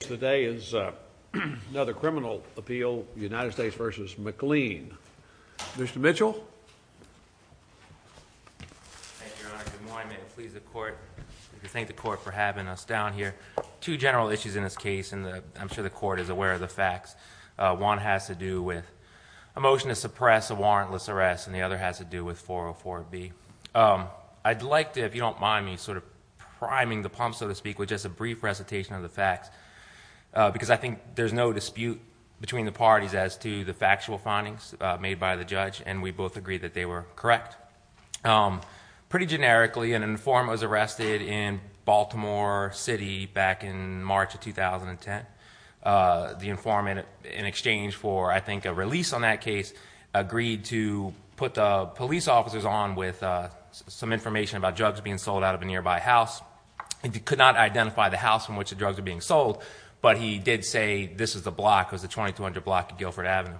Today is another criminal appeal, United States v. McLean. Mr. Mitchell. Thank you, Your Honor. Good morning. May it please the Court. I'd like to thank the Court for having us down here. Two general issues in this case, and I'm sure the Court is aware of the facts. One has to do with a motion to suppress a warrantless arrest, and the other has to do with 404B. I'd like to, if you don't mind me sort of priming the pump, so to speak, with just a brief recitation of the facts, because I think there's no dispute between the parties as to the factual findings made by the judge, and we both agree that they were correct. Pretty generically, an informant was arrested in Baltimore City back in March of 2010. The informant, in exchange for, I think, a release on that case, agreed to put the police officers on with some information about drugs being sold out of a nearby house. He could not identify the house from which the drugs were being sold, but he did say this is the block, it was the 2200 block of Guilford Avenue.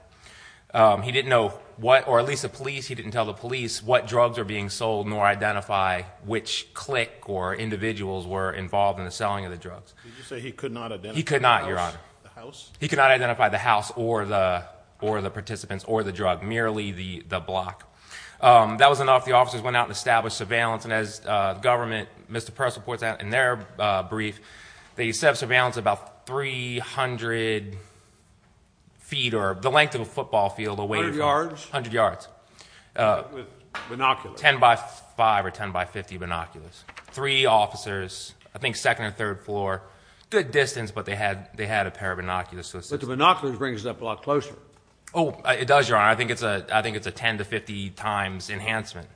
He didn't know what, or at least the police, he didn't tell the police what drugs were being sold, nor identify which clique or individuals were involved in the selling of the drugs. Did you say he could not identify the house? He could not, Your Honor. The house? He could not identify the house or the participants or the drug, merely the block. That was enough. The officers went out and established surveillance, and as the government, Mr. Press reports in their brief, they set up surveillance at about 300 feet, or the length of a football field. A hundred yards? A hundred yards. With binoculars? Ten by five or ten by 50 binoculars. Three officers, I think second and third floor. Good distance, but they had a pair of binoculars. But the binoculars brings it up a lot closer. Oh, it does, Your Honor. I think it's a ten to 50 times enhancement.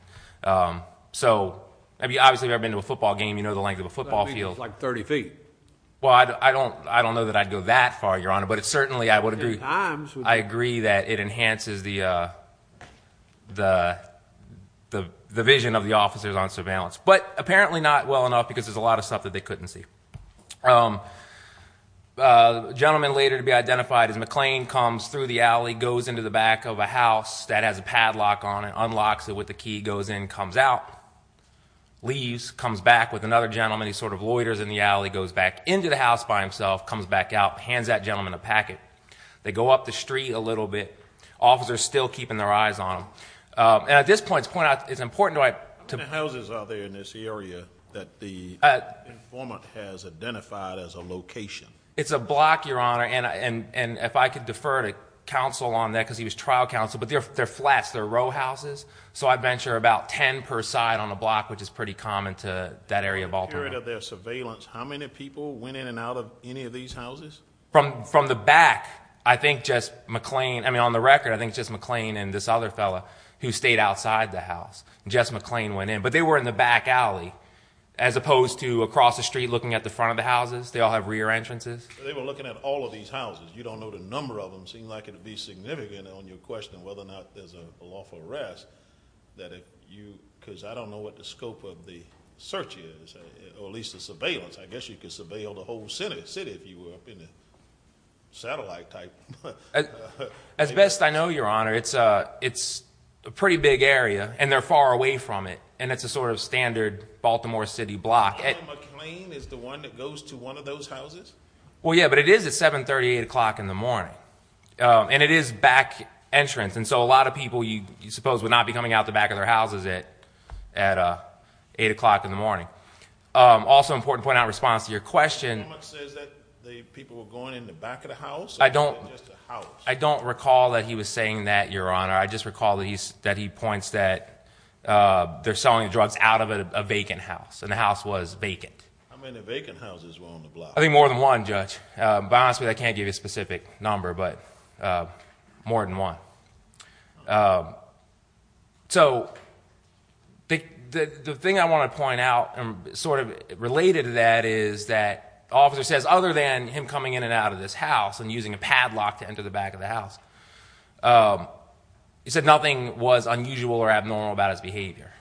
So, obviously if you've ever been to a football game, you know the length of a football field. That means it's like 30 feet. Well, I don't know that I'd go that far, Your Honor. But certainly I would agree that it enhances the vision of the officers on surveillance. But apparently not well enough because there's a lot of stuff that they couldn't see. A gentleman later to be identified as McClain comes through the alley, goes into the back of a house that has a padlock on it, unlocks it with the key, goes in, comes out, leaves, comes back with another gentleman, he sort of loiters in the alley, goes back into the house by himself, comes back out, hands that gentleman a packet. They go up the street a little bit. Officers still keeping their eyes on them. And at this point, to point out, it's important to I— How many houses are there in this area that the informant has identified as a location? It's a block, Your Honor. And if I could defer to counsel on that because he was trial counsel. But they're flats. They're row houses. So I'd venture about 10 per side on a block, which is pretty common to that area of Baltimore. In the period of their surveillance, how many people went in and out of any of these houses? From the back, I think just McClain—I mean, on the record, Jess McClain went in. But they were in the back alley as opposed to across the street looking at the front of the houses. They all have rear entrances. They were looking at all of these houses. You don't know the number of them. It seems like it would be significant on your question whether or not there's a lawful arrest that if you— because I don't know what the scope of the search is, or at least the surveillance. I guess you could surveil the whole city if you were up in the satellite type. As best I know, Your Honor, it's a pretty big area. And they're far away from it. And it's a sort of standard Baltimore City block. So McClain is the one that goes to one of those houses? Well, yeah, but it is at 7.30, 8 o'clock in the morning. And it is back entrance. And so a lot of people, you suppose, would not be coming out the back of their houses at 8 o'clock in the morning. Also important to point out in response to your question— The statement says that the people were going in the back of the house or was it just a house? I don't recall that he was saying that, Your Honor. I just recall that he points that they're selling drugs out of a vacant house, and the house was vacant. How many vacant houses were on the block? I think more than one, Judge. But honestly, I can't give you a specific number, but more than one. So the thing I want to point out sort of related to that is that the officer says, other than him coming in and out of this house and using a padlock to enter the back of the house, he said nothing was unusual or abnormal about his behavior.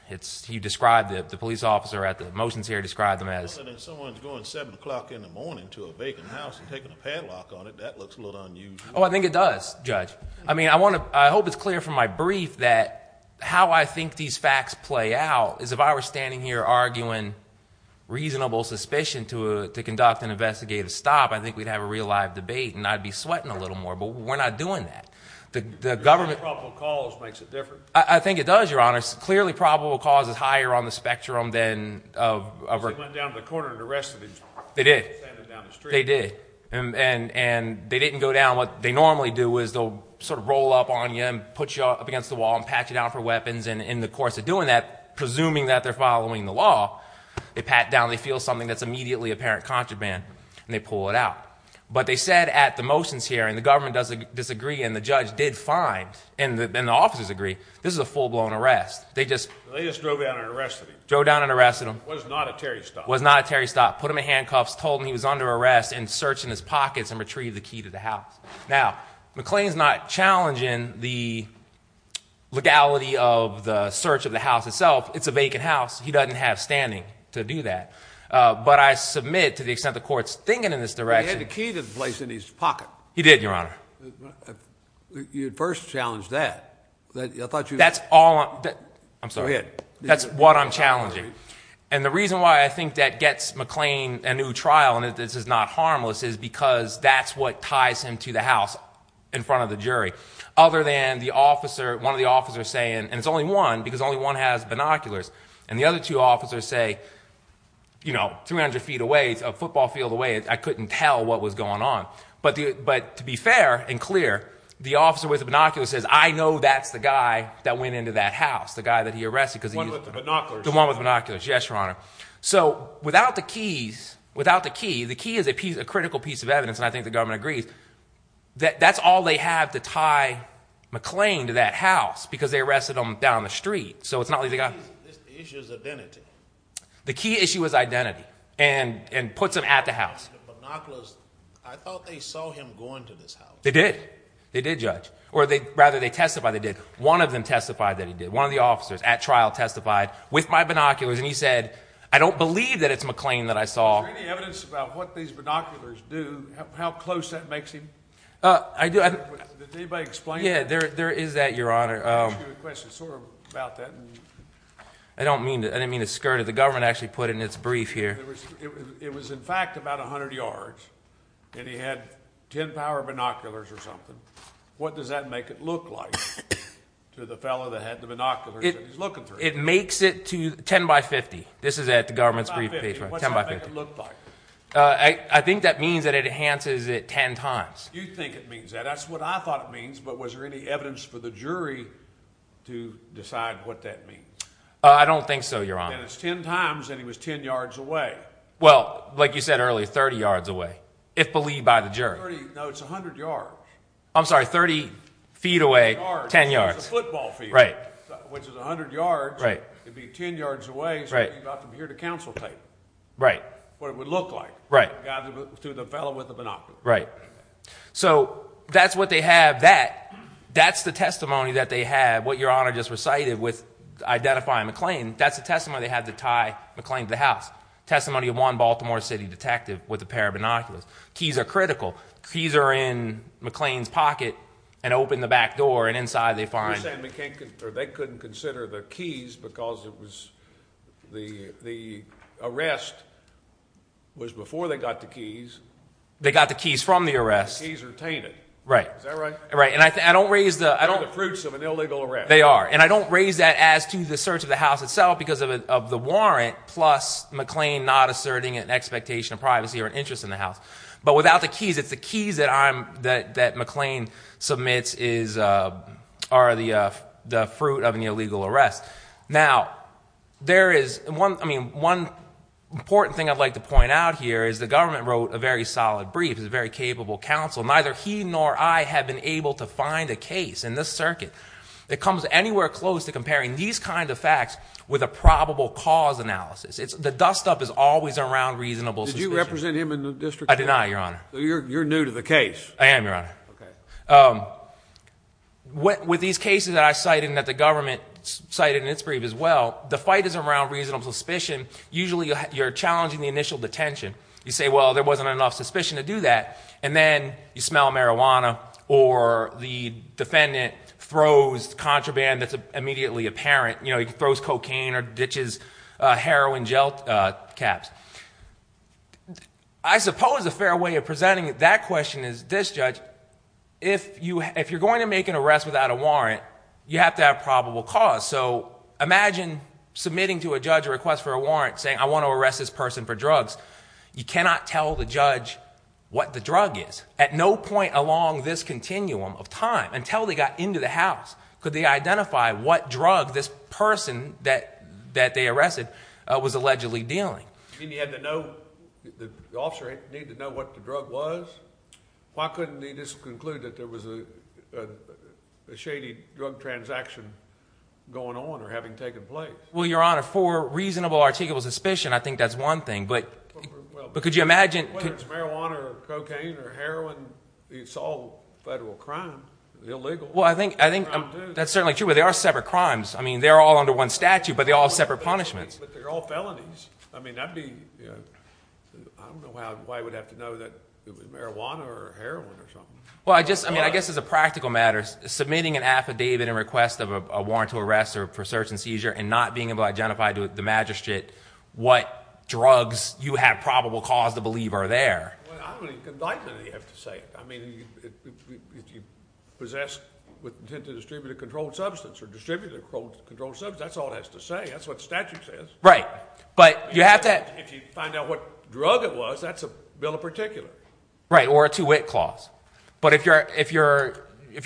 He described the police officer at the motions here, described them as— Someone's going 7 o'clock in the morning to a vacant house and taking a padlock on it. That looks a little unusual. Oh, I think it does, Judge. I mean, I hope it's clear from my brief that how I think these facts play out is if I were standing here arguing reasonable suspicion to conduct an investigative stop, I think we'd have a real live debate, and I'd be sweating a little more. But we're not doing that. The government— Clearly probable cause makes it different. I think it does, Your Honor. Clearly probable cause is higher on the spectrum than— Because they went down to the corner and arrested him. They did. They sent him down the street. They did. And they didn't go down—what they normally do is they'll sort of roll up on you and put you up against the wall and pat you down for weapons, and in the course of doing that, presuming that they're following the law, they pat down, they feel something that's immediately apparent contraband, and they pull it out. But they said at the motions hearing, the government doesn't disagree, and the judge did find, and the officers agree, this is a full-blown arrest. They just— They just drove down and arrested him. Drove down and arrested him. Was not a Terry stop. Was not a Terry stop. Put him in handcuffs, told him he was under arrest, and searched in his pockets and retrieved the key to the house. Now, McLean's not challenging the legality of the search of the house itself. It's a vacant house. He doesn't have standing to do that. But I submit, to the extent the court's thinking in this direction— But he had the key to the place in his pocket. He did, Your Honor. You first challenged that. I thought you— That's all—I'm sorry. Go ahead. That's what I'm challenging. And the reason why I think that gets McLean a new trial and that this is not harmless is because that's what ties him to the house in front of the jury, other than the officer—one of the officers saying, and it's only one because only one has binoculars, and the other two officers say, you know, 300 feet away, a football field away. I couldn't tell what was going on. But to be fair and clear, the officer with the binoculars says, I know that's the guy that went into that house, the guy that he arrested because he was— The one with the binoculars. The one with the binoculars, yes, Your Honor. So without the keys—without the key, the key is a critical piece of evidence, and I think the government agrees, that that's all they have to tie McLean to that house because they arrested him down the street. So it's not like they got— The issue is identity. The key issue is identity and puts him at the house. The binoculars—I thought they saw him going to this house. They did. They did, Judge. Or rather, they testified they did. One of them testified that he did. One of the officers at trial testified with my binoculars, and he said, I don't believe that it's McLean that I saw. Is there any evidence about what these binoculars do, how close that makes him? I do— Did anybody explain it? Yeah, there is that, Your Honor. Let me ask you a question sort of about that. I don't mean to skirt it. The government actually put it in its brief here. It was, in fact, about 100 yards, and he had 10 power binoculars or something. What does that make it look like to the fellow that had the binoculars that he's looking through? It makes it to 10 by 50. This is at the government's brief page. 10 by 50. What's that make it look like? I think that means that it enhances it 10 times. You think it means that. That's what I thought it means, but was there any evidence for the jury to decide what that means? I don't think so, Your Honor. Then it's 10 times, and he was 10 yards away. Well, like you said earlier, 30 yards away, if believed by the jury. No, it's 100 yards. I'm sorry, 30 feet away, 10 yards. It's a football field, which is 100 yards. It would be 10 yards away, so you'd have to be here to consultate what it would look like to the fellow with the binoculars. Right. So that's what they have. That's the testimony that they have, what Your Honor just recited with identifying McLean. That's the testimony they had to tie McLean to the house, testimony of one Baltimore City detective with a pair of binoculars. Keys are critical. Keys are in McLean's pocket and open the back door, and inside they find— You're saying they couldn't consider the keys because the arrest was before they got the keys. They got the keys from the arrest. The keys are tainted. Right. Is that right? Right, and I don't raise the— They're the fruits of an illegal arrest. They are, and I don't raise that as to the search of the house itself because of the warrant, plus McLean not asserting an expectation of privacy or an interest in the house. But without the keys, it's the keys that McLean submits are the fruit of an illegal arrest. Now, there is—I mean, one important thing I'd like to point out here is the government wrote a very solid brief. It was a very capable counsel. Neither he nor I have been able to find a case in this circuit that comes anywhere close to comparing these kinds of facts with a probable cause analysis. The dustup is always around reasonable suspicions. Did you represent him in the district court? I did not, Your Honor. You're new to the case. I am, Your Honor. Okay. With these cases that I cited and that the government cited in its brief as well, the fight is around reasonable suspicion. Usually you're challenging the initial detention. You say, well, there wasn't enough suspicion to do that, and then you smell marijuana or the defendant throws contraband that's immediately apparent. He throws cocaine or ditches heroin gel caps. I suppose a fair way of presenting that question is this, Judge. If you're going to make an arrest without a warrant, you have to have probable cause. So imagine submitting to a judge a request for a warrant saying I want to arrest this person for drugs. You cannot tell the judge what the drug is. At no point along this continuum of time, until they got into the house, could they identify what drug this person that they arrested was allegedly dealing. You mean you had to know—the officer needed to know what the drug was? Why couldn't he just conclude that there was a shady drug transaction going on or having taken place? Well, Your Honor, for reasonable, articulable suspicion, I think that's one thing. But could you imagine— Whether it's marijuana or cocaine or heroin, it's all federal crime. It's illegal. Well, I think that's certainly true, but they are separate crimes. I mean they're all under one statute, but they're all separate punishments. But they're all felonies. I mean I'd be—I don't know why I would have to know that it was marijuana or heroin or something. Well, I guess as a practical matter, submitting an affidavit in request of a warrant to arrest or for search and seizure and not being able to identify to the magistrate what drugs you have probable cause to believe are there. Well, I don't think you have to say it. I mean if you possess with intent to distribute a controlled substance or distribute a controlled substance, that's all it has to say. That's what the statute says. Right. But you have to— If you find out what drug it was, that's a bill of particulars. Right, or a two-wit clause. But if you're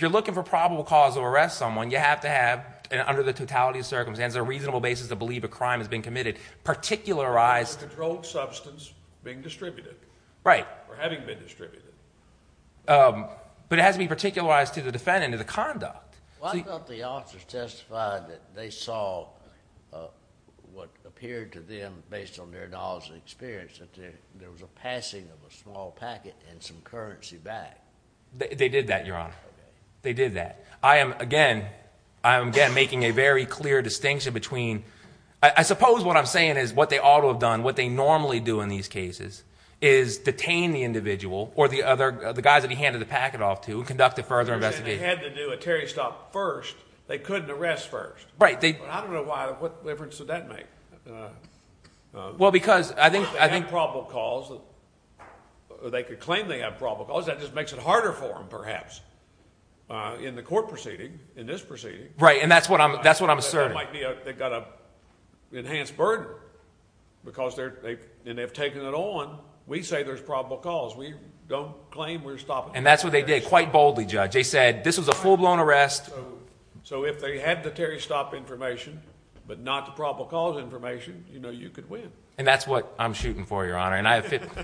looking for probable cause to arrest someone, you have to have, under the totality of circumstances, a reasonable basis to believe a crime has been committed, particularized— A controlled substance being distributed. Right. Or having been distributed. But it has to be particularized to the defendant and to the conduct. Well, I thought the officers testified that they saw what appeared to them, based on their knowledge and experience, that there was a passing of a small packet and some currency back. They did that, Your Honor. Okay. They did that. I am, again, making a very clear distinction between— I suppose what I'm saying is what they ought to have done, what they normally do in these cases, is detain the individual or the guys that he handed the packet off to and conduct a further investigation. If the defendant had to do a Terry stop first, they couldn't arrest first. Right. But I don't know what difference would that make. Well, because I think— If they have probable cause, they could claim they have probable cause. That just makes it harder for them, perhaps, in the court proceeding, in this proceeding. Right, and that's what I'm asserting. They've got an enhanced burden because they've taken it on. We say there's probable cause. And that's what they did quite boldly, Judge. They said this was a full-blown arrest. So if they had the Terry stop information but not the probable cause information, you know, you could win. And that's what I'm shooting for, Your Honor. And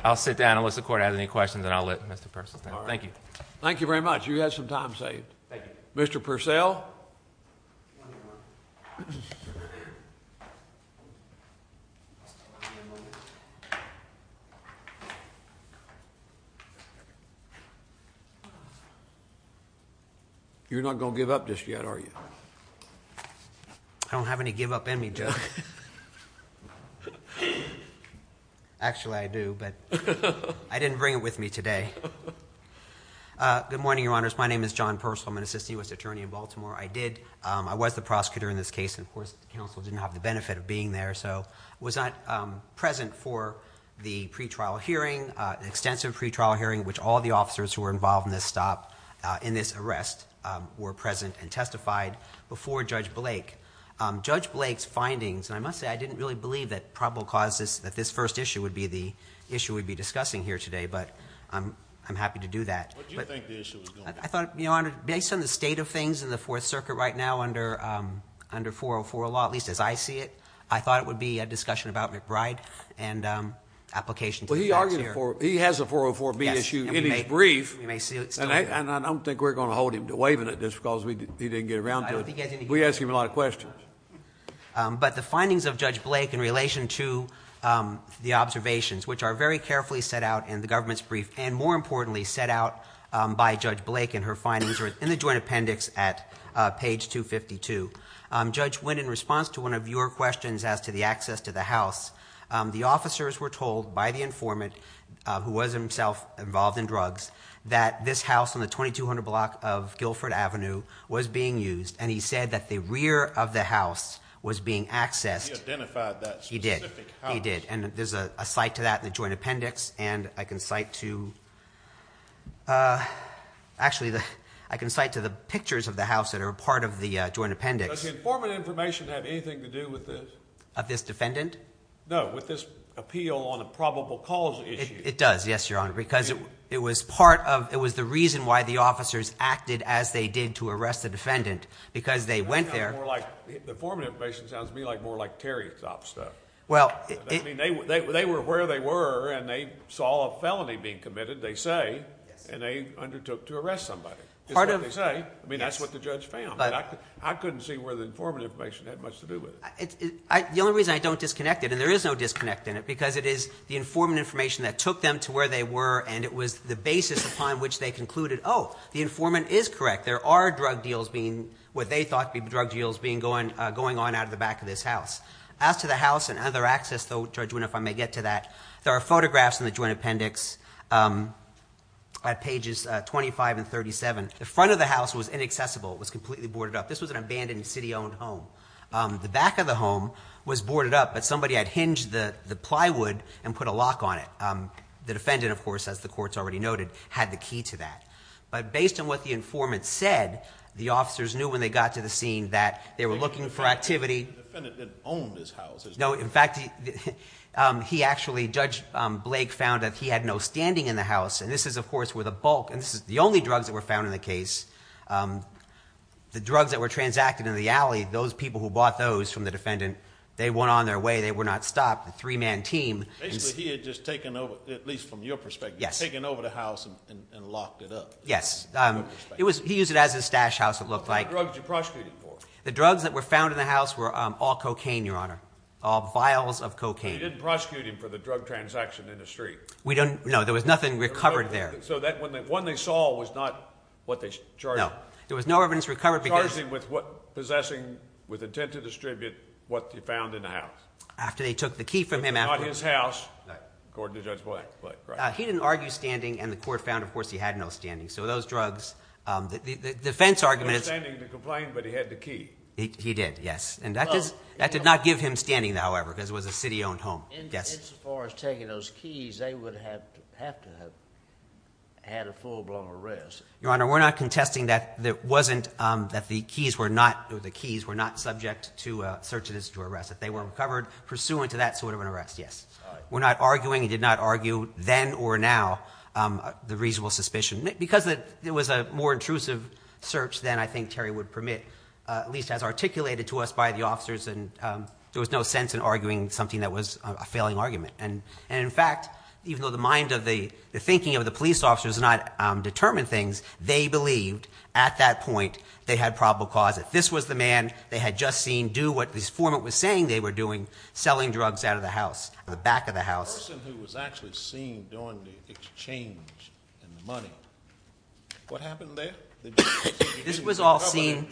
I'll sit down unless the court has any questions, and I'll let Mr. Purcell stand. Thank you. Thank you very much. You had some time saved. Thank you. Mr. Purcell. You're not going to give up just yet, are you? I don't have any give-up in me, Judge. Actually, I do, but I didn't bring it with me today. Good morning, Your Honors. My name is John Purcell. I'm an assistant U.S. attorney in Baltimore. I did—I was the prosecutor in this case. And, of course, the counsel didn't have the benefit of being there, so I was not present for the pretrial hearing, the extensive pretrial hearing in which all the officers who were involved in this stop, in this arrest, were present and testified before Judge Blake. Judge Blake's findings—and I must say I didn't really believe that probable cause, that this first issue would be the issue we'd be discussing here today, but I'm happy to do that. What did you think the issue was going to be? I thought, Your Honor, based on the state of things in the Fourth Circuit right now under 404 law, at least as I see it, I thought it would be a discussion about McBride and application to the judge here. He has a 404B issue in his brief, and I don't think we're going to hold him to waiving it just because he didn't get around to it. We ask him a lot of questions. But the findings of Judge Blake in relation to the observations, which are very carefully set out in the government's brief and, more importantly, set out by Judge Blake and her findings are in the joint appendix at page 252. Judge, when in response to one of your questions as to the access to the House, the officers were told by the informant, who was himself involved in drugs, that this house on the 2200 block of Guilford Avenue was being used, and he said that the rear of the house was being accessed. He identified that specific house. He did, and there's a cite to that in the joint appendix, and I can cite to— Actually, I can cite to the pictures of the house that are a part of the joint appendix. Does the informant information have anything to do with this? Of this defendant? No, with this appeal on a probable cause issue. It does, yes, Your Honor, because it was part of—it was the reason why the officers acted as they did to arrest the defendant. Because they went there— That sounds more like—the informant information sounds to me like more like terry-top stuff. Well— I mean, they were where they were, and they saw a felony being committed, they say, and they undertook to arrest somebody. Part of— That's what they say. I mean, that's what the judge found. I couldn't see where the informant information had much to do with it. The only reason I don't disconnect it, and there is no disconnect in it, because it is the informant information that took them to where they were, and it was the basis upon which they concluded, oh, the informant is correct. There are drug deals being—what they thought to be drug deals going on out of the back of this house. As to the house and other access, though, Judge Winn, if I may get to that, there are photographs in the joint appendix at pages 25 and 37. The front of the house was inaccessible. It was completely boarded up. This was an abandoned city-owned home. The back of the home was boarded up, but somebody had hinged the plywood and put a lock on it. The defendant, of course, as the court's already noted, had the key to that. But based on what the informant said, the officers knew when they got to the scene that they were looking for activity. The defendant didn't own this house. No, in fact, he actually—Judge Blake found that he had no standing in the house, and this is, of course, where the bulk—and this is the only drugs that were found in the case. The drugs that were transacted in the alley, those people who bought those from the defendant, they went on their way. They were not stopped. The three-man team— Basically, he had just taken over, at least from your perspective, taken over the house and locked it up. Yes. He used it as his stash house, it looked like. What kind of drugs did you prosecute him for? The drugs that were found in the house were all cocaine, Your Honor, all vials of cocaine. So you didn't prosecute him for the drug transaction in the street? No, there was nothing recovered there. So the one they saw was not what they charged him with? No, there was no evidence recovered because— You charged him with possessing with intent to distribute what you found in the house. After they took the key from him after— It's not his house, according to Judge Blake. He didn't argue standing, and the court found, of course, he had no standing. So those drugs—the defense argument is— He had no standing to complain, but he had the key. He did, yes, and that did not give him standing, however, because it was a city-owned home. Insofar as taking those keys, they would have to have had a full-blown arrest. Your Honor, we're not contesting that it wasn't—that the keys were not— or the keys were not subject to search and arrest, that they were recovered pursuant to that sort of an arrest, yes. We're not arguing—he did not argue then or now the reasonable suspicion. Because it was a more intrusive search than I think Terry would permit, at least as articulated to us by the officers, and there was no sense in arguing something that was a failing argument. And in fact, even though the mind of the—the thinking of the police officers did not determine things, they believed at that point they had probable cause. If this was the man they had just seen do what this foreman was saying they were doing, selling drugs out of the house, the back of the house— The person who was actually seen doing the exchange and the money, what happened there? This was all seen—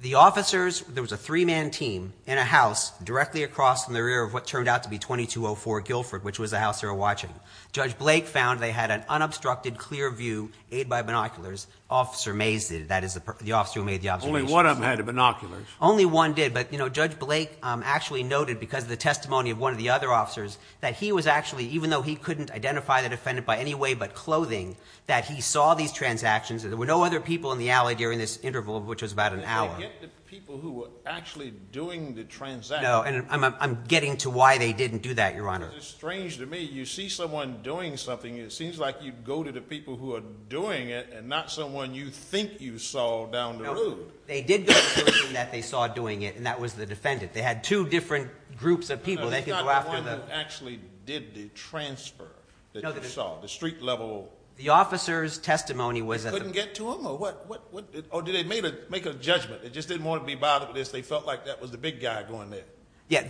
The officers—there was a three-man team in a house directly across from the rear of what turned out to be 2204 Guilford, which was the house they were watching. Judge Blake found they had an unobstructed, clear view, aid by binoculars, Officer Mazet, that is the officer who made the observations. Only one of them had binoculars. Only one did, but, you know, Judge Blake actually noted because of the testimony of one of the other officers that he was actually—even though he couldn't identify the defendant by any way but clothing, that he saw these transactions and there were no other people in the alley during this interval, which was about an hour. And they get the people who were actually doing the transactions. No, and I'm getting to why they didn't do that, Your Honor. Because it's strange to me. You see someone doing something and it seems like you go to the people who are doing it and not someone you think you saw down the road. No, they did go to the person that they saw doing it, and that was the defendant. They had two different groups of people that could go after them. The one who actually did the transfer that you saw, the street-level. The officer's testimony was at the— Couldn't get to him or what? Or did they make a judgment? They just didn't want to be bothered with this. They felt like that was the big guy going there. Yeah,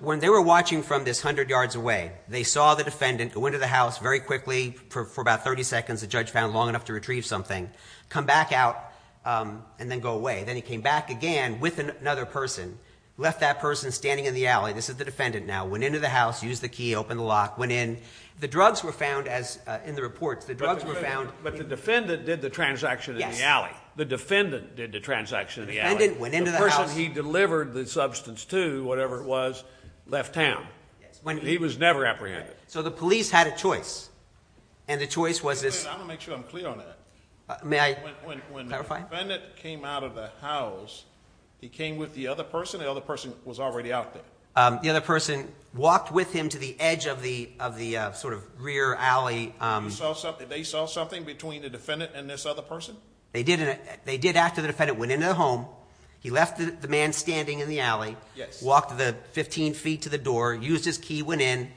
when they were watching from this hundred yards away, they saw the defendant go into the house very quickly for about 30 seconds. The judge found long enough to retrieve something, come back out, and then go away. Then he came back again with another person, left that person standing in the alley. This is the defendant now. Went into the house, used the key, opened the lock, went in. The drugs were found in the reports. But the defendant did the transaction in the alley. The defendant did the transaction in the alley. The person he delivered the substance to, whatever it was, left town. He was never apprehended. So the police had a choice, and the choice was this— I'm going to make sure I'm clear on that. May I clarify? When the defendant came out of the house, he came with the other person? The other person was already out there. The other person walked with him to the edge of the sort of rear alley. They saw something between the defendant and this other person? They did after the defendant went into the home. He left the man standing in the alley, walked 15 feet to the door, used his key, went in.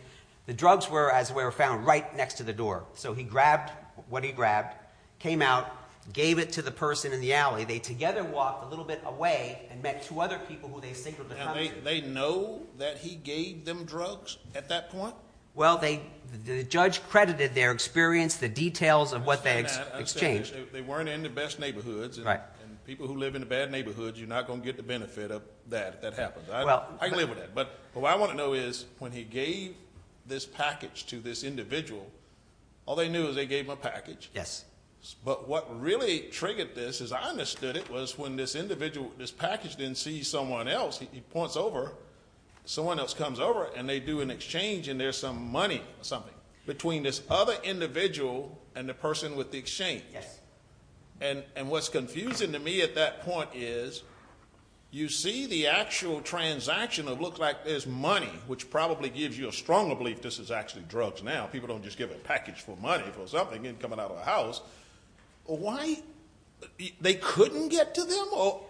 The drugs were, as it were, found right next to the door. So he grabbed what he grabbed, came out, gave it to the person in the alley. They together walked a little bit away and met two other people who they think were the company. They know that he gave them drugs at that point? Well, the judge credited their experience, the details of what they exchanged. I understand that. They weren't in the best neighborhoods, and people who live in the bad neighborhoods, you're not going to get the benefit of that if that happens. I can live with that. But what I want to know is when he gave this package to this individual, all they knew is they gave him a package. Yes. But what really triggered this is I understood it was when this individual, this package didn't see someone else. He points over, someone else comes over, and they do an exchange, and there's some money or something between this other individual and the person with the exchange. Yes. And what's confusing to me at that point is you see the actual transaction that looks like there's money, which probably gives you a stronger belief this is actually drugs now. People don't just give a package for money for something coming out of a house. Why they couldn't get to them?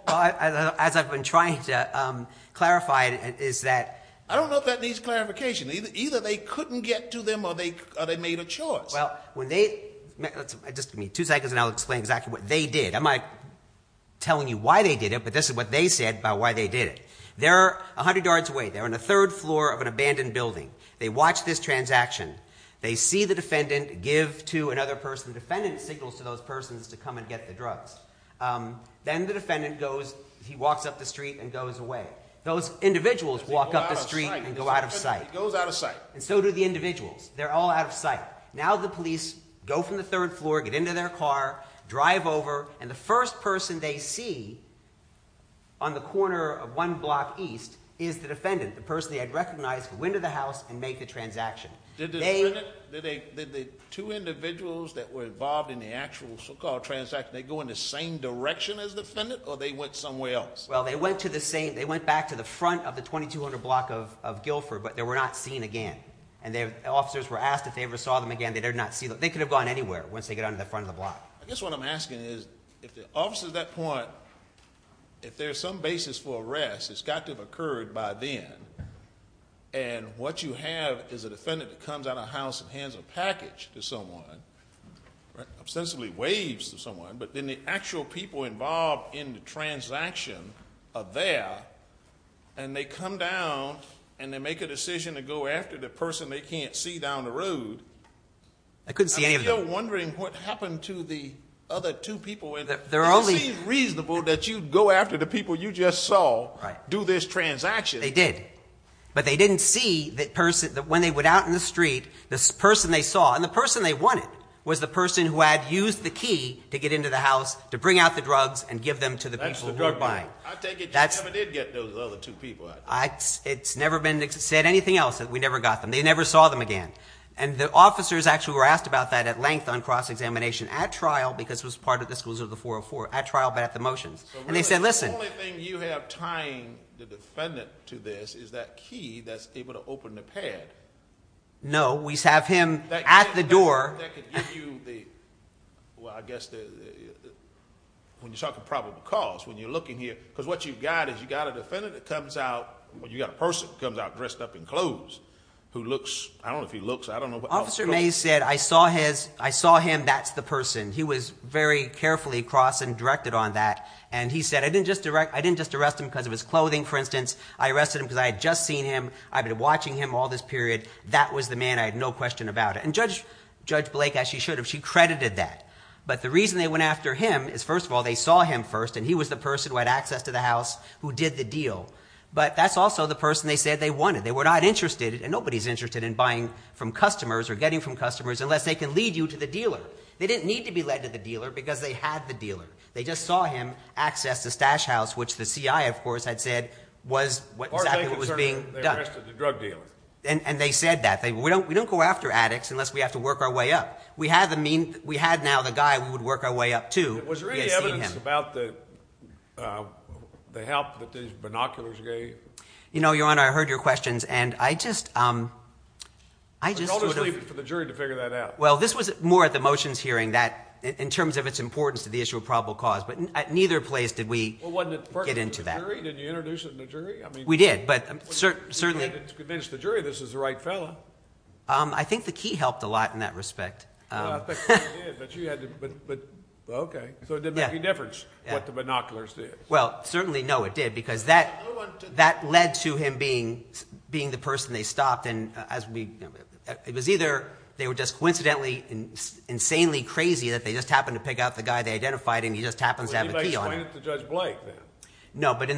As I've been trying to clarify, it is that. I don't know if that needs clarification. Either they couldn't get to them or they made a choice. Well, when they – just give me two seconds, and I'll explain exactly what they did. I'm not telling you why they did it, but this is what they said about why they did it. They're 100 yards away. They're on the third floor of an abandoned building. They watch this transaction. They see the defendant give to another person. The defendant signals to those persons to come and get the drugs. Then the defendant goes. He walks up the street and goes away. Those individuals walk up the street and go out of sight. He goes out of sight. And so do the individuals. They're all out of sight. Now the police go from the third floor, get into their car, drive over, and the first person they see on the corner of one block east is the defendant, the person they had recognized, go into the house and make the transaction. Did the two individuals that were involved in the actual so-called transaction, did they go in the same direction as the defendant or they went somewhere else? Well, they went back to the front of the 2200 block of Guilford, but they were not seen again. And the officers were asked if they ever saw them again. They could have gone anywhere once they got onto the front of the block. I guess what I'm asking is if the officers at that point, if there's some basis for arrest, it's got to have occurred by then, and what you have is a defendant that comes out of the house and hands a package to someone, ostensibly waves to someone, but then the actual people involved in the transaction are there, and they come down and they make a decision to go after the person they can't see down the road. I couldn't see any of them. I think you're wondering what happened to the other two people. It seems reasonable that you'd go after the people you just saw, do this transaction. They did. But they didn't see when they went out in the street, the person they saw, and the person they wanted was the person who had used the key to get into the house to bring out the drugs and give them to the people who were buying. I take it you never did get those other two people out. It's never been said anything else that we never got them. They never saw them again. And the officers actually were asked about that at length on cross-examination at trial because it was part of the disclosure of the 404, at trial but at the motions. And they said, listen. The only thing you have tying the defendant to this is that key that's able to open the pad. No, we have him at the door. That could give you the, well, I guess when you're talking probable cause, when you're looking here, because what you've got is you've got a defendant that comes out, you've got a person who comes out dressed up in clothes who looks, I don't know if he looks, I don't know what officer looks. Officer Mays said, I saw him, that's the person. He was very carefully crossed and directed on that. And he said, I didn't just arrest him because of his clothing, for instance. I arrested him because I had just seen him. I've been watching him all this period. That was the man. I had no question about it. And Judge Blake, as she should have, she credited that. But the reason they went after him is, first of all, they saw him first, and he was the person who had access to the house who did the deal. But that's also the person they said they wanted. They were not interested, and nobody's interested, in buying from customers or getting from customers unless they can lead you to the dealer. They didn't need to be led to the dealer because they had the dealer. They just saw him access the stash house, which the CI, of course, had said was exactly what was being done. They arrested the drug dealer. And they said that. We don't go after addicts unless we have to work our way up. We had now the guy we would work our way up to. Was there any evidence about the help that these binoculars gave? Your Honor, I heard your questions, and I just sort of – Let's leave it for the jury to figure that out. Well, this was more at the motions hearing that, in terms of its importance to the issue of probable cause, but neither place did we get into that. Well, wasn't it first to the jury? Didn't you introduce it to the jury? We did, but certainly – You had to convince the jury this was the right fellow. I think the key helped a lot in that respect. Well, I think the key did, but you had to – okay. So it didn't make any difference what the binoculars did. Well, certainly, no, it did because that led to him being the person they stopped. It was either they were just coincidentally, insanely crazy that they just happened to pick out the guy they identified, and he just happens to have a key on him. Well, anybody explain it to Judge Blake, then? No, but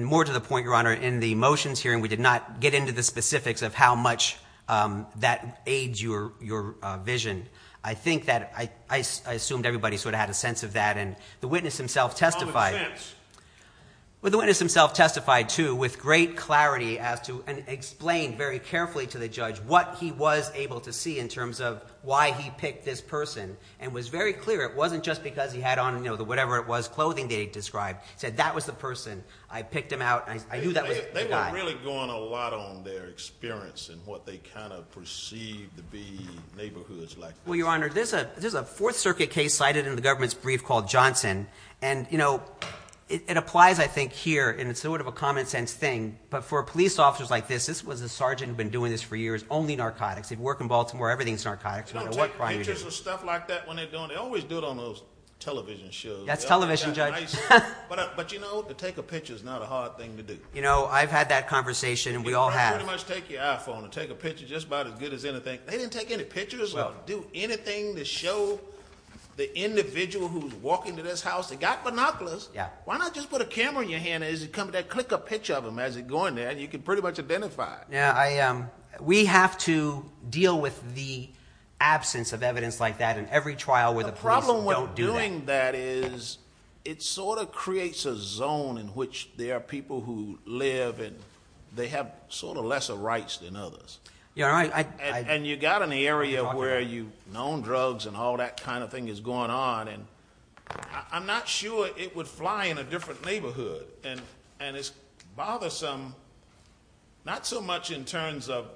more to the point, Your Honor, in the motions hearing, we did not get into the specifics of how much that aids your vision. I think that I assumed everybody sort of had a sense of that, and the witness himself testified. Common sense. Well, the witness himself testified, too, with great clarity as to – what he was able to see in terms of why he picked this person and was very clear it wasn't just because he had on whatever it was, clothing that he described. He said that was the person. I picked him out, and I knew that was the guy. They were really going a lot on their experience and what they kind of perceived to be neighborhoods like this. Well, Your Honor, there's a Fourth Circuit case cited in the government's brief called Johnson, and it applies, I think, here, and it's sort of a common-sense thing, but for police officers like this, this was a sergeant who had been doing this for years, only narcotics. He'd work in Baltimore. Everything's narcotics, no matter what crime you do. They don't take pictures of stuff like that when they're doing it. They always do it on those television shows. That's television, Judge. But, you know, to take a picture is not a hard thing to do. You know, I've had that conversation, and we all have. You can pretty much take your iPhone and take a picture just about as good as anything. They didn't take any pictures or do anything to show the individual who's walking to this house. They got binoculars. Why not just put a camera in your hand as you come to that? Click a picture of them as you're going there, and you can pretty much identify. Yeah. We have to deal with the absence of evidence like that in every trial where the police don't do that. The problem with doing that is it sort of creates a zone in which there are people who live and they have sort of lesser rights than others. Yeah. And you've got an area where you've known drugs and all that kind of thing is going on, and I'm not sure it would fly in a different neighborhood. And it's bothersome not so much in terms of,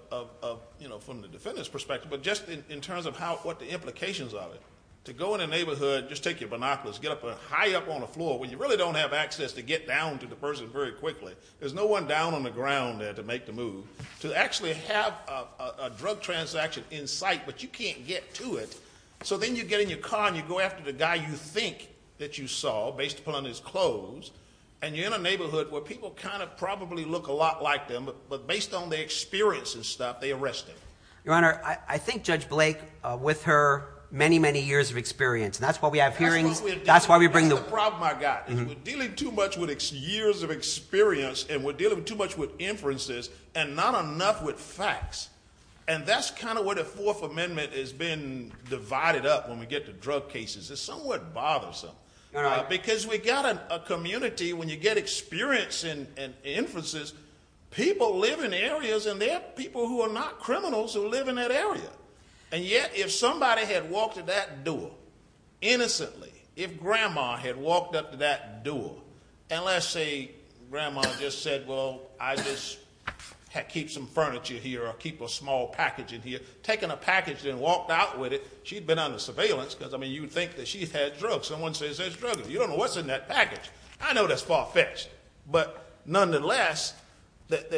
you know, from the defendant's perspective, but just in terms of what the implications of it. To go in a neighborhood, just take your binoculars, get up high up on the floor when you really don't have access to get down to the person very quickly. There's no one down on the ground there to make the move. To actually have a drug transaction in sight, but you can't get to it. So then you get in your car and you go after the guy you think that you saw based upon his clothes, and you're in a neighborhood where people kind of probably look a lot like them, but based on their experience and stuff, they arrest them. Your Honor, I think Judge Blake, with her many, many years of experience, and that's why we have hearings. That's the problem I've got, is we're dealing too much with years of experience and we're dealing too much with inferences and not enough with facts. And that's kind of where the Fourth Amendment is being divided up when we get to drug cases. It's somewhat bothersome. Because we've got a community, when you get experience and inferences, people live in areas and there are people who are not criminals who live in that area. And yet if somebody had walked to that door innocently, if Grandma had walked up to that door, and let's say Grandma just said, well, I'll just keep some furniture here or keep a small package in here, taken a package and walked out with it, she'd been under surveillance because, I mean, you'd think that she'd had drugs. Someone says there's drugs. You don't know what's in that package. I know that's far-fetched. But nonetheless, the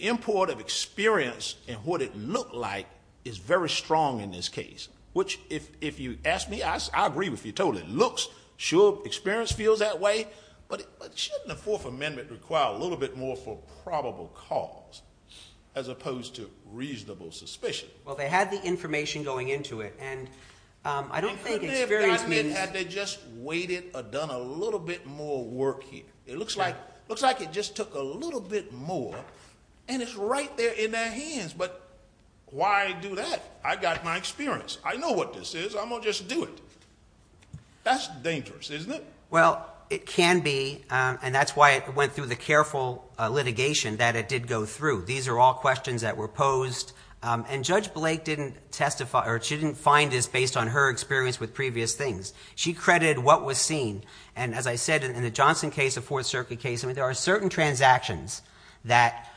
import of experience and what it looked like is very strong in this case, which if you ask me, I agree with you totally. It looks sure, experience feels that way, but shouldn't the Fourth Amendment require a little bit more for probable cause as opposed to reasonable suspicion? Well, they had the information going into it. And I don't think experience means... They could have gotten it had they just waited or done a little bit more work here. It looks like it just took a little bit more, and it's right there in their hands. But why do that? I've got my experience. I know what this is. I'm going to just do it. That's dangerous, isn't it? Well, it can be, and that's why it went through the careful litigation that it did go through. These are all questions that were posed. And Judge Blake didn't testify or she didn't find this based on her experience with previous things. She credited what was seen. And as I said, in the Johnson case, the Fourth Circuit case, there are certain transactions that,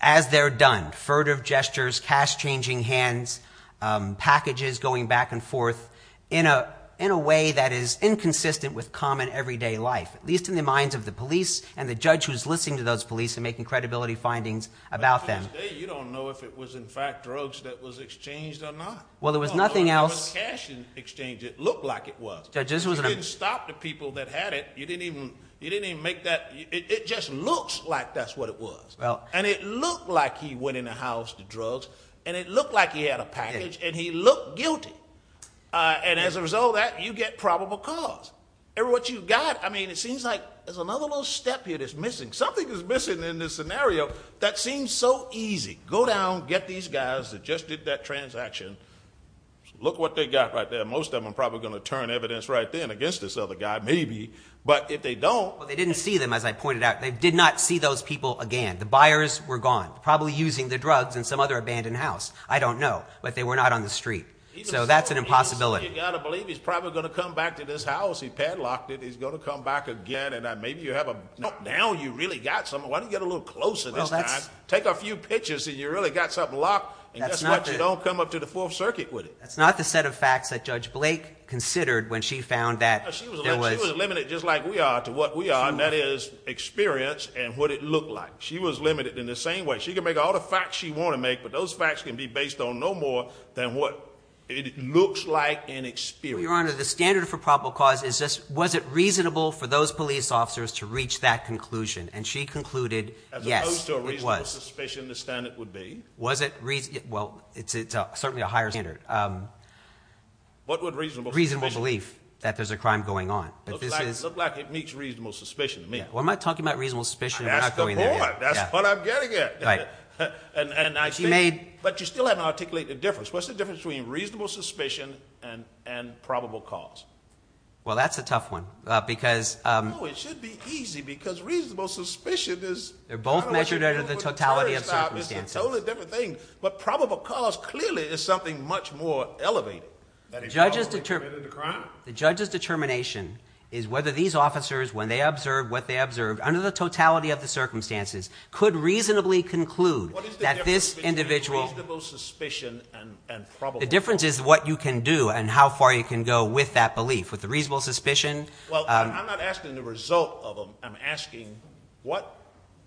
as they're done, furtive gestures, cash-changing hands, packages going back and forth in a way that is inconsistent with common everyday life, at least in the minds of the police and the judge who's listening to those police and making credibility findings about them. You don't know if it was, in fact, drugs that was exchanged or not. Well, there was nothing else. Cash exchange, it looked like it was. You didn't stop the people that had it. You didn't even make that – it just looks like that's what it was. And it looked like he went in the house to drugs, and it looked like he had a package, and he looked guilty. And as a result of that, you get probable cause. And what you've got, I mean, it seems like there's another little step here that's missing. Something is missing in this scenario that seems so easy. Go down, get these guys that just did that transaction. Look what they got right there. Most of them are probably going to turn evidence right then against this other guy, maybe. But if they don't. Well, they didn't see them, as I pointed out. They did not see those people again. The buyers were gone, probably using the drugs in some other abandoned house. I don't know, but they were not on the street. So that's an impossibility. You've got to believe he's probably going to come back to this house. He padlocked it. He's going to come back again. Now you've really got something. Why don't you get a little closer this time? Take a few pictures, and you've really got something locked. And guess what? You don't come up to the Fourth Circuit with it. That's not the set of facts that Judge Blake considered when she found that there was. She was limited just like we are to what we are, and that is experience and what it looked like. She was limited in the same way. She could make all the facts she wanted to make, but those facts can be based on no more than what it looks like in experience. Your Honor, the standard for probable cause is just, was it reasonable for those police officers to reach that conclusion? And she concluded, yes, it was. As opposed to a reasonable suspicion, the standard would be? Well, it's certainly a higher standard. What would reasonable suspicion be? Reasonable belief that there's a crime going on. Looks like it meets reasonable suspicion to me. Well, I'm not talking about reasonable suspicion. That's the point. That's what I'm getting at. But you still haven't articulated the difference. What's the difference between reasonable suspicion and probable cause? Well, that's a tough one, because- No, it should be easy, because reasonable suspicion is- They're both measured under the totality of circumstances. It's a totally different thing. But probable cause clearly is something much more elevated. The judge's determination is whether these officers, when they observed what they observed, under the totality of the circumstances, could reasonably conclude that this individual- What is the difference between reasonable suspicion and probable cause? The difference is what you can do and how far you can go with that belief. With the reasonable suspicion- Well, I'm not asking the result of them. I'm asking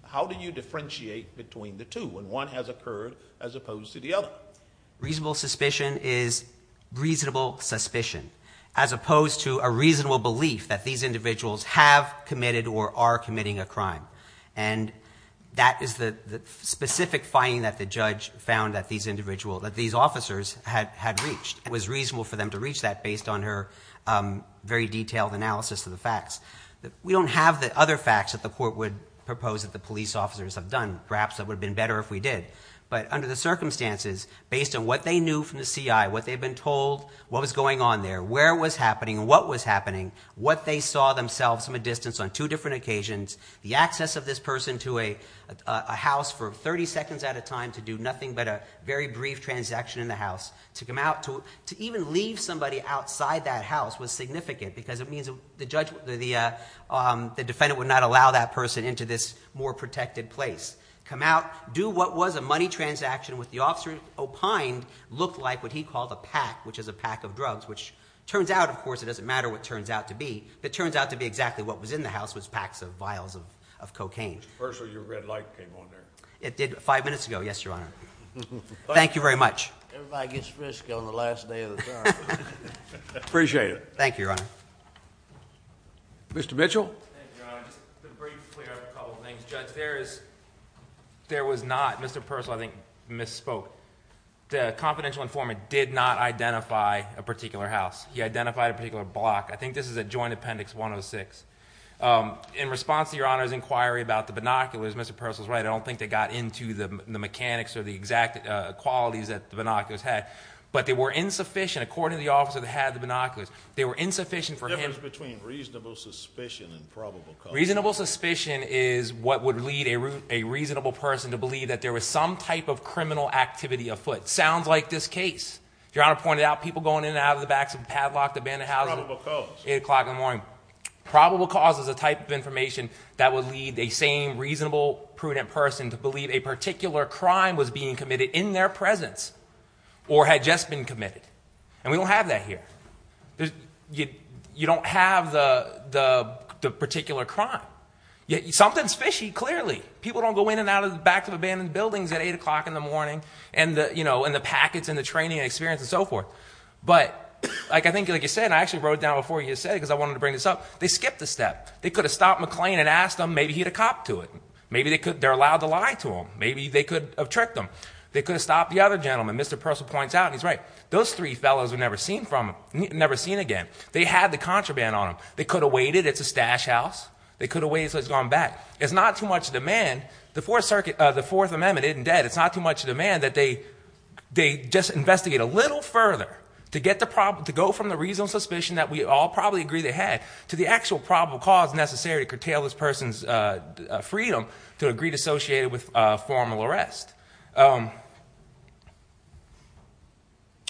how do you differentiate between the two when one has occurred as opposed to the other? Reasonable suspicion is reasonable suspicion, as opposed to a reasonable belief that these individuals have committed or are committing a crime. And that is the specific finding that the judge found that these officers had reached. It was reasonable for them to reach that based on her very detailed analysis of the facts. We don't have the other facts that the court would propose that the police officers have done. Perhaps it would have been better if we did. But under the circumstances, based on what they knew from the CI, what they've been told, what was going on there, where it was happening and what was happening, what they saw themselves from a distance on two different occasions, the access of this person to a house for 30 seconds at a time to do nothing but a very brief transaction in the house, to come out, to even leave somebody outside that house was significant because it means the defendant would not allow that person into this more protected place. Come out, do what was a money transaction with the officer opined looked like what he called a pack, which is a pack of drugs, which turns out, of course, it doesn't matter what it turns out to be. It turns out to be exactly what was in the house was packs of vials of cocaine. First of all, your red light came on there. It did five minutes ago, yes, Your Honor. Thank you very much. Everybody gets frisky on the last day of the trial. Appreciate it. Thank you, Your Honor. Mr. Mitchell? Thank you, Your Honor. Just to briefly clear up a couple of things, Judge, there was not, Mr. Purcell, I think, misspoke. The confidential informant did not identify a particular house. He identified a particular block. I think this is at Joint Appendix 106. In response to Your Honor's inquiry about the binoculars, Mr. Purcell's right, I don't think they got into the mechanics or the exact qualities that the binoculars had, but they were insufficient, according to the officer that had the binoculars, they were insufficient for him. What's the difference between reasonable suspicion and probable cause? Reasonable suspicion is what would lead a reasonable person to believe that there was some type of criminal activity afoot. Sounds like this case. Your Honor pointed out people going in and out of the backs of padlocked abandoned houses. Probable cause. 8 o'clock in the morning. Probable cause is a type of information that would lead the same reasonable, prudent person to believe a particular crime was being committed in their presence or had just been committed. And we don't have that here. You don't have the particular crime. Something's fishy, clearly. People don't go in and out of the backs of abandoned buildings at 8 o'clock in the morning, and the packets and the training and experience and so forth. But I think, like you said, and I actually wrote it down before you said it because I wanted to bring this up, they skipped a step. They could have stopped McClain and asked him, maybe he'd have copped to it. Maybe they're allowed to lie to him. Maybe they could have tricked him. They could have stopped the other gentleman. Mr. Purcell points out, and he's right, those three fellows were never seen again. They had the contraband on them. They could have waited. It's a stash house. They could have waited until he's gone back. There's not too much demand. The Fourth Circuit, the Fourth Amendment isn't dead. It's not too much demand that they just investigate a little further to go from the reasonable suspicion that we all probably agree they had to the actual probable cause necessary to curtail this person's freedom to a greed associated with formal arrest.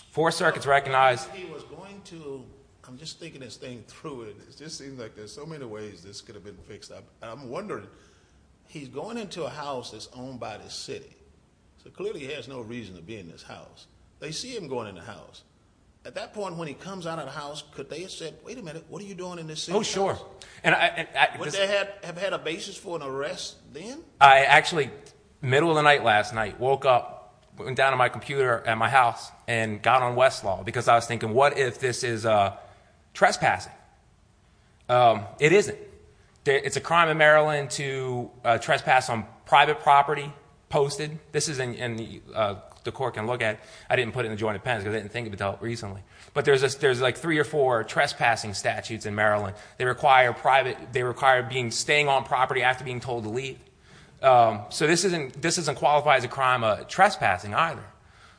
Fourth Circuit's recognized. He was going to. I'm just thinking this thing through. It just seems like there's so many ways this could have been fixed up. I'm wondering. He's going into a house that's owned by the city, so clearly he has no reason to be in this house. They see him going in the house. At that point, when he comes out of the house, could they have said, wait a minute, what are you doing in this city? Oh, sure. Would they have had a basis for an arrest then? I actually, middle of the night last night, woke up, went down to my computer at my house, and got on Westlaw because I was thinking, what if this is trespassing? It isn't. It's a crime in Maryland to trespass on private property posted. This is in the court can look at. I didn't put it in the joint appendix because I didn't think of it until recently. But there's like three or four trespassing statutes in Maryland. They require staying on property after being told to leave. So this doesn't qualify as a crime of trespassing either.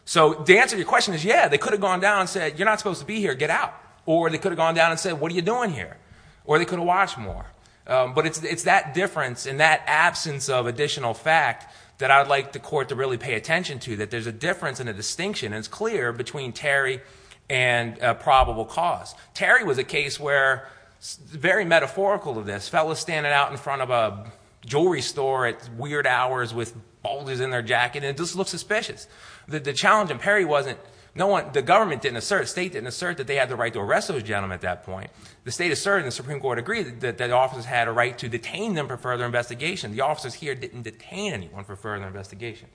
So the answer to your question is, yeah, they could have gone down and said, you're not supposed to be here, get out. Or they could have gone down and said, what are you doing here? Or they could have watched more. But it's that difference and that absence of additional fact that I would like the court to really pay attention to, that there's a difference and a distinction, and it's clear, between Terry and probable cause. Terry was a case where, very metaphorical of this, fellas standing out in front of a jewelry store at weird hours with boulders in their jacket, and it just looked suspicious. The challenge in Perry wasn't, no one, the government didn't assert, the state didn't assert that they had the right to arrest those gentlemen at that point. The state asserted and the Supreme Court agreed that the officers had a right to detain them for further investigation. The officers here didn't detain anyone for further investigation.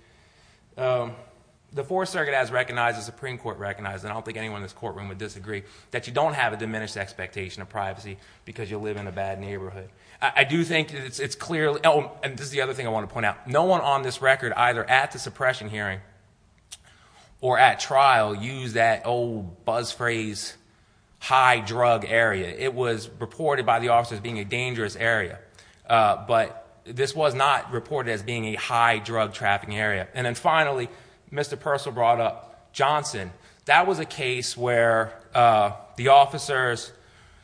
The Fourth Circuit has recognized, the Supreme Court recognized, and I don't think anyone in this courtroom would disagree, that you don't have a diminished expectation of privacy because you live in a bad neighborhood. I do think it's clear, and this is the other thing I want to point out. No one on this record, either at the suppression hearing or at trial, used that old buzz phrase, high drug area. It was reported by the officers as being a dangerous area. But this was not reported as being a high drug trapping area. And then finally, Mr. Purcell brought up Johnson. That was a case where the officers,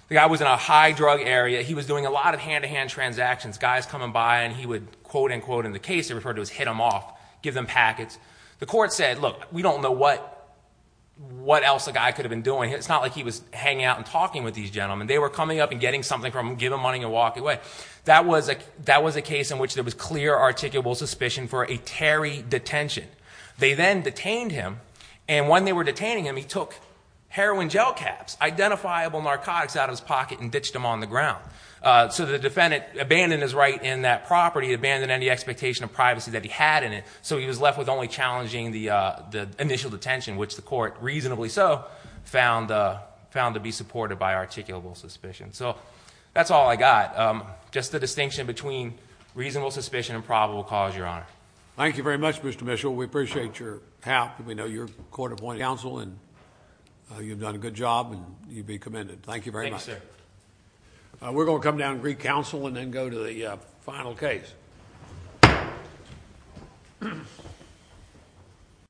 the guy was in a high drug area. He was doing a lot of hand-to-hand transactions. Guys coming by and he would quote-unquote in the case, it was referred to as hit them off, give them packets. The court said, look, we don't know what else the guy could have been doing. It's not like he was hanging out and talking with these gentlemen. They were coming up and getting something from them, giving them money and walking away. But that was a case in which there was clear articulable suspicion for a Terry detention. They then detained him, and when they were detaining him, he took heroin gel caps, identifiable narcotics out of his pocket and ditched them on the ground. So the defendant abandoned his right in that property, abandoned any expectation of privacy that he had in it, so he was left with only challenging the initial detention, which the court, reasonably so, found to be supported by articulable suspicion. So that's all I got, just the distinction between reasonable suspicion and probable cause, Your Honor. Thank you very much, Mr. Mitchell. We appreciate your help. We know you're a court-appointed counsel, and you've done a good job, and you'd be commended. Thank you very much. Thank you, sir. We're going to come down to Greek Council and then go to the final case.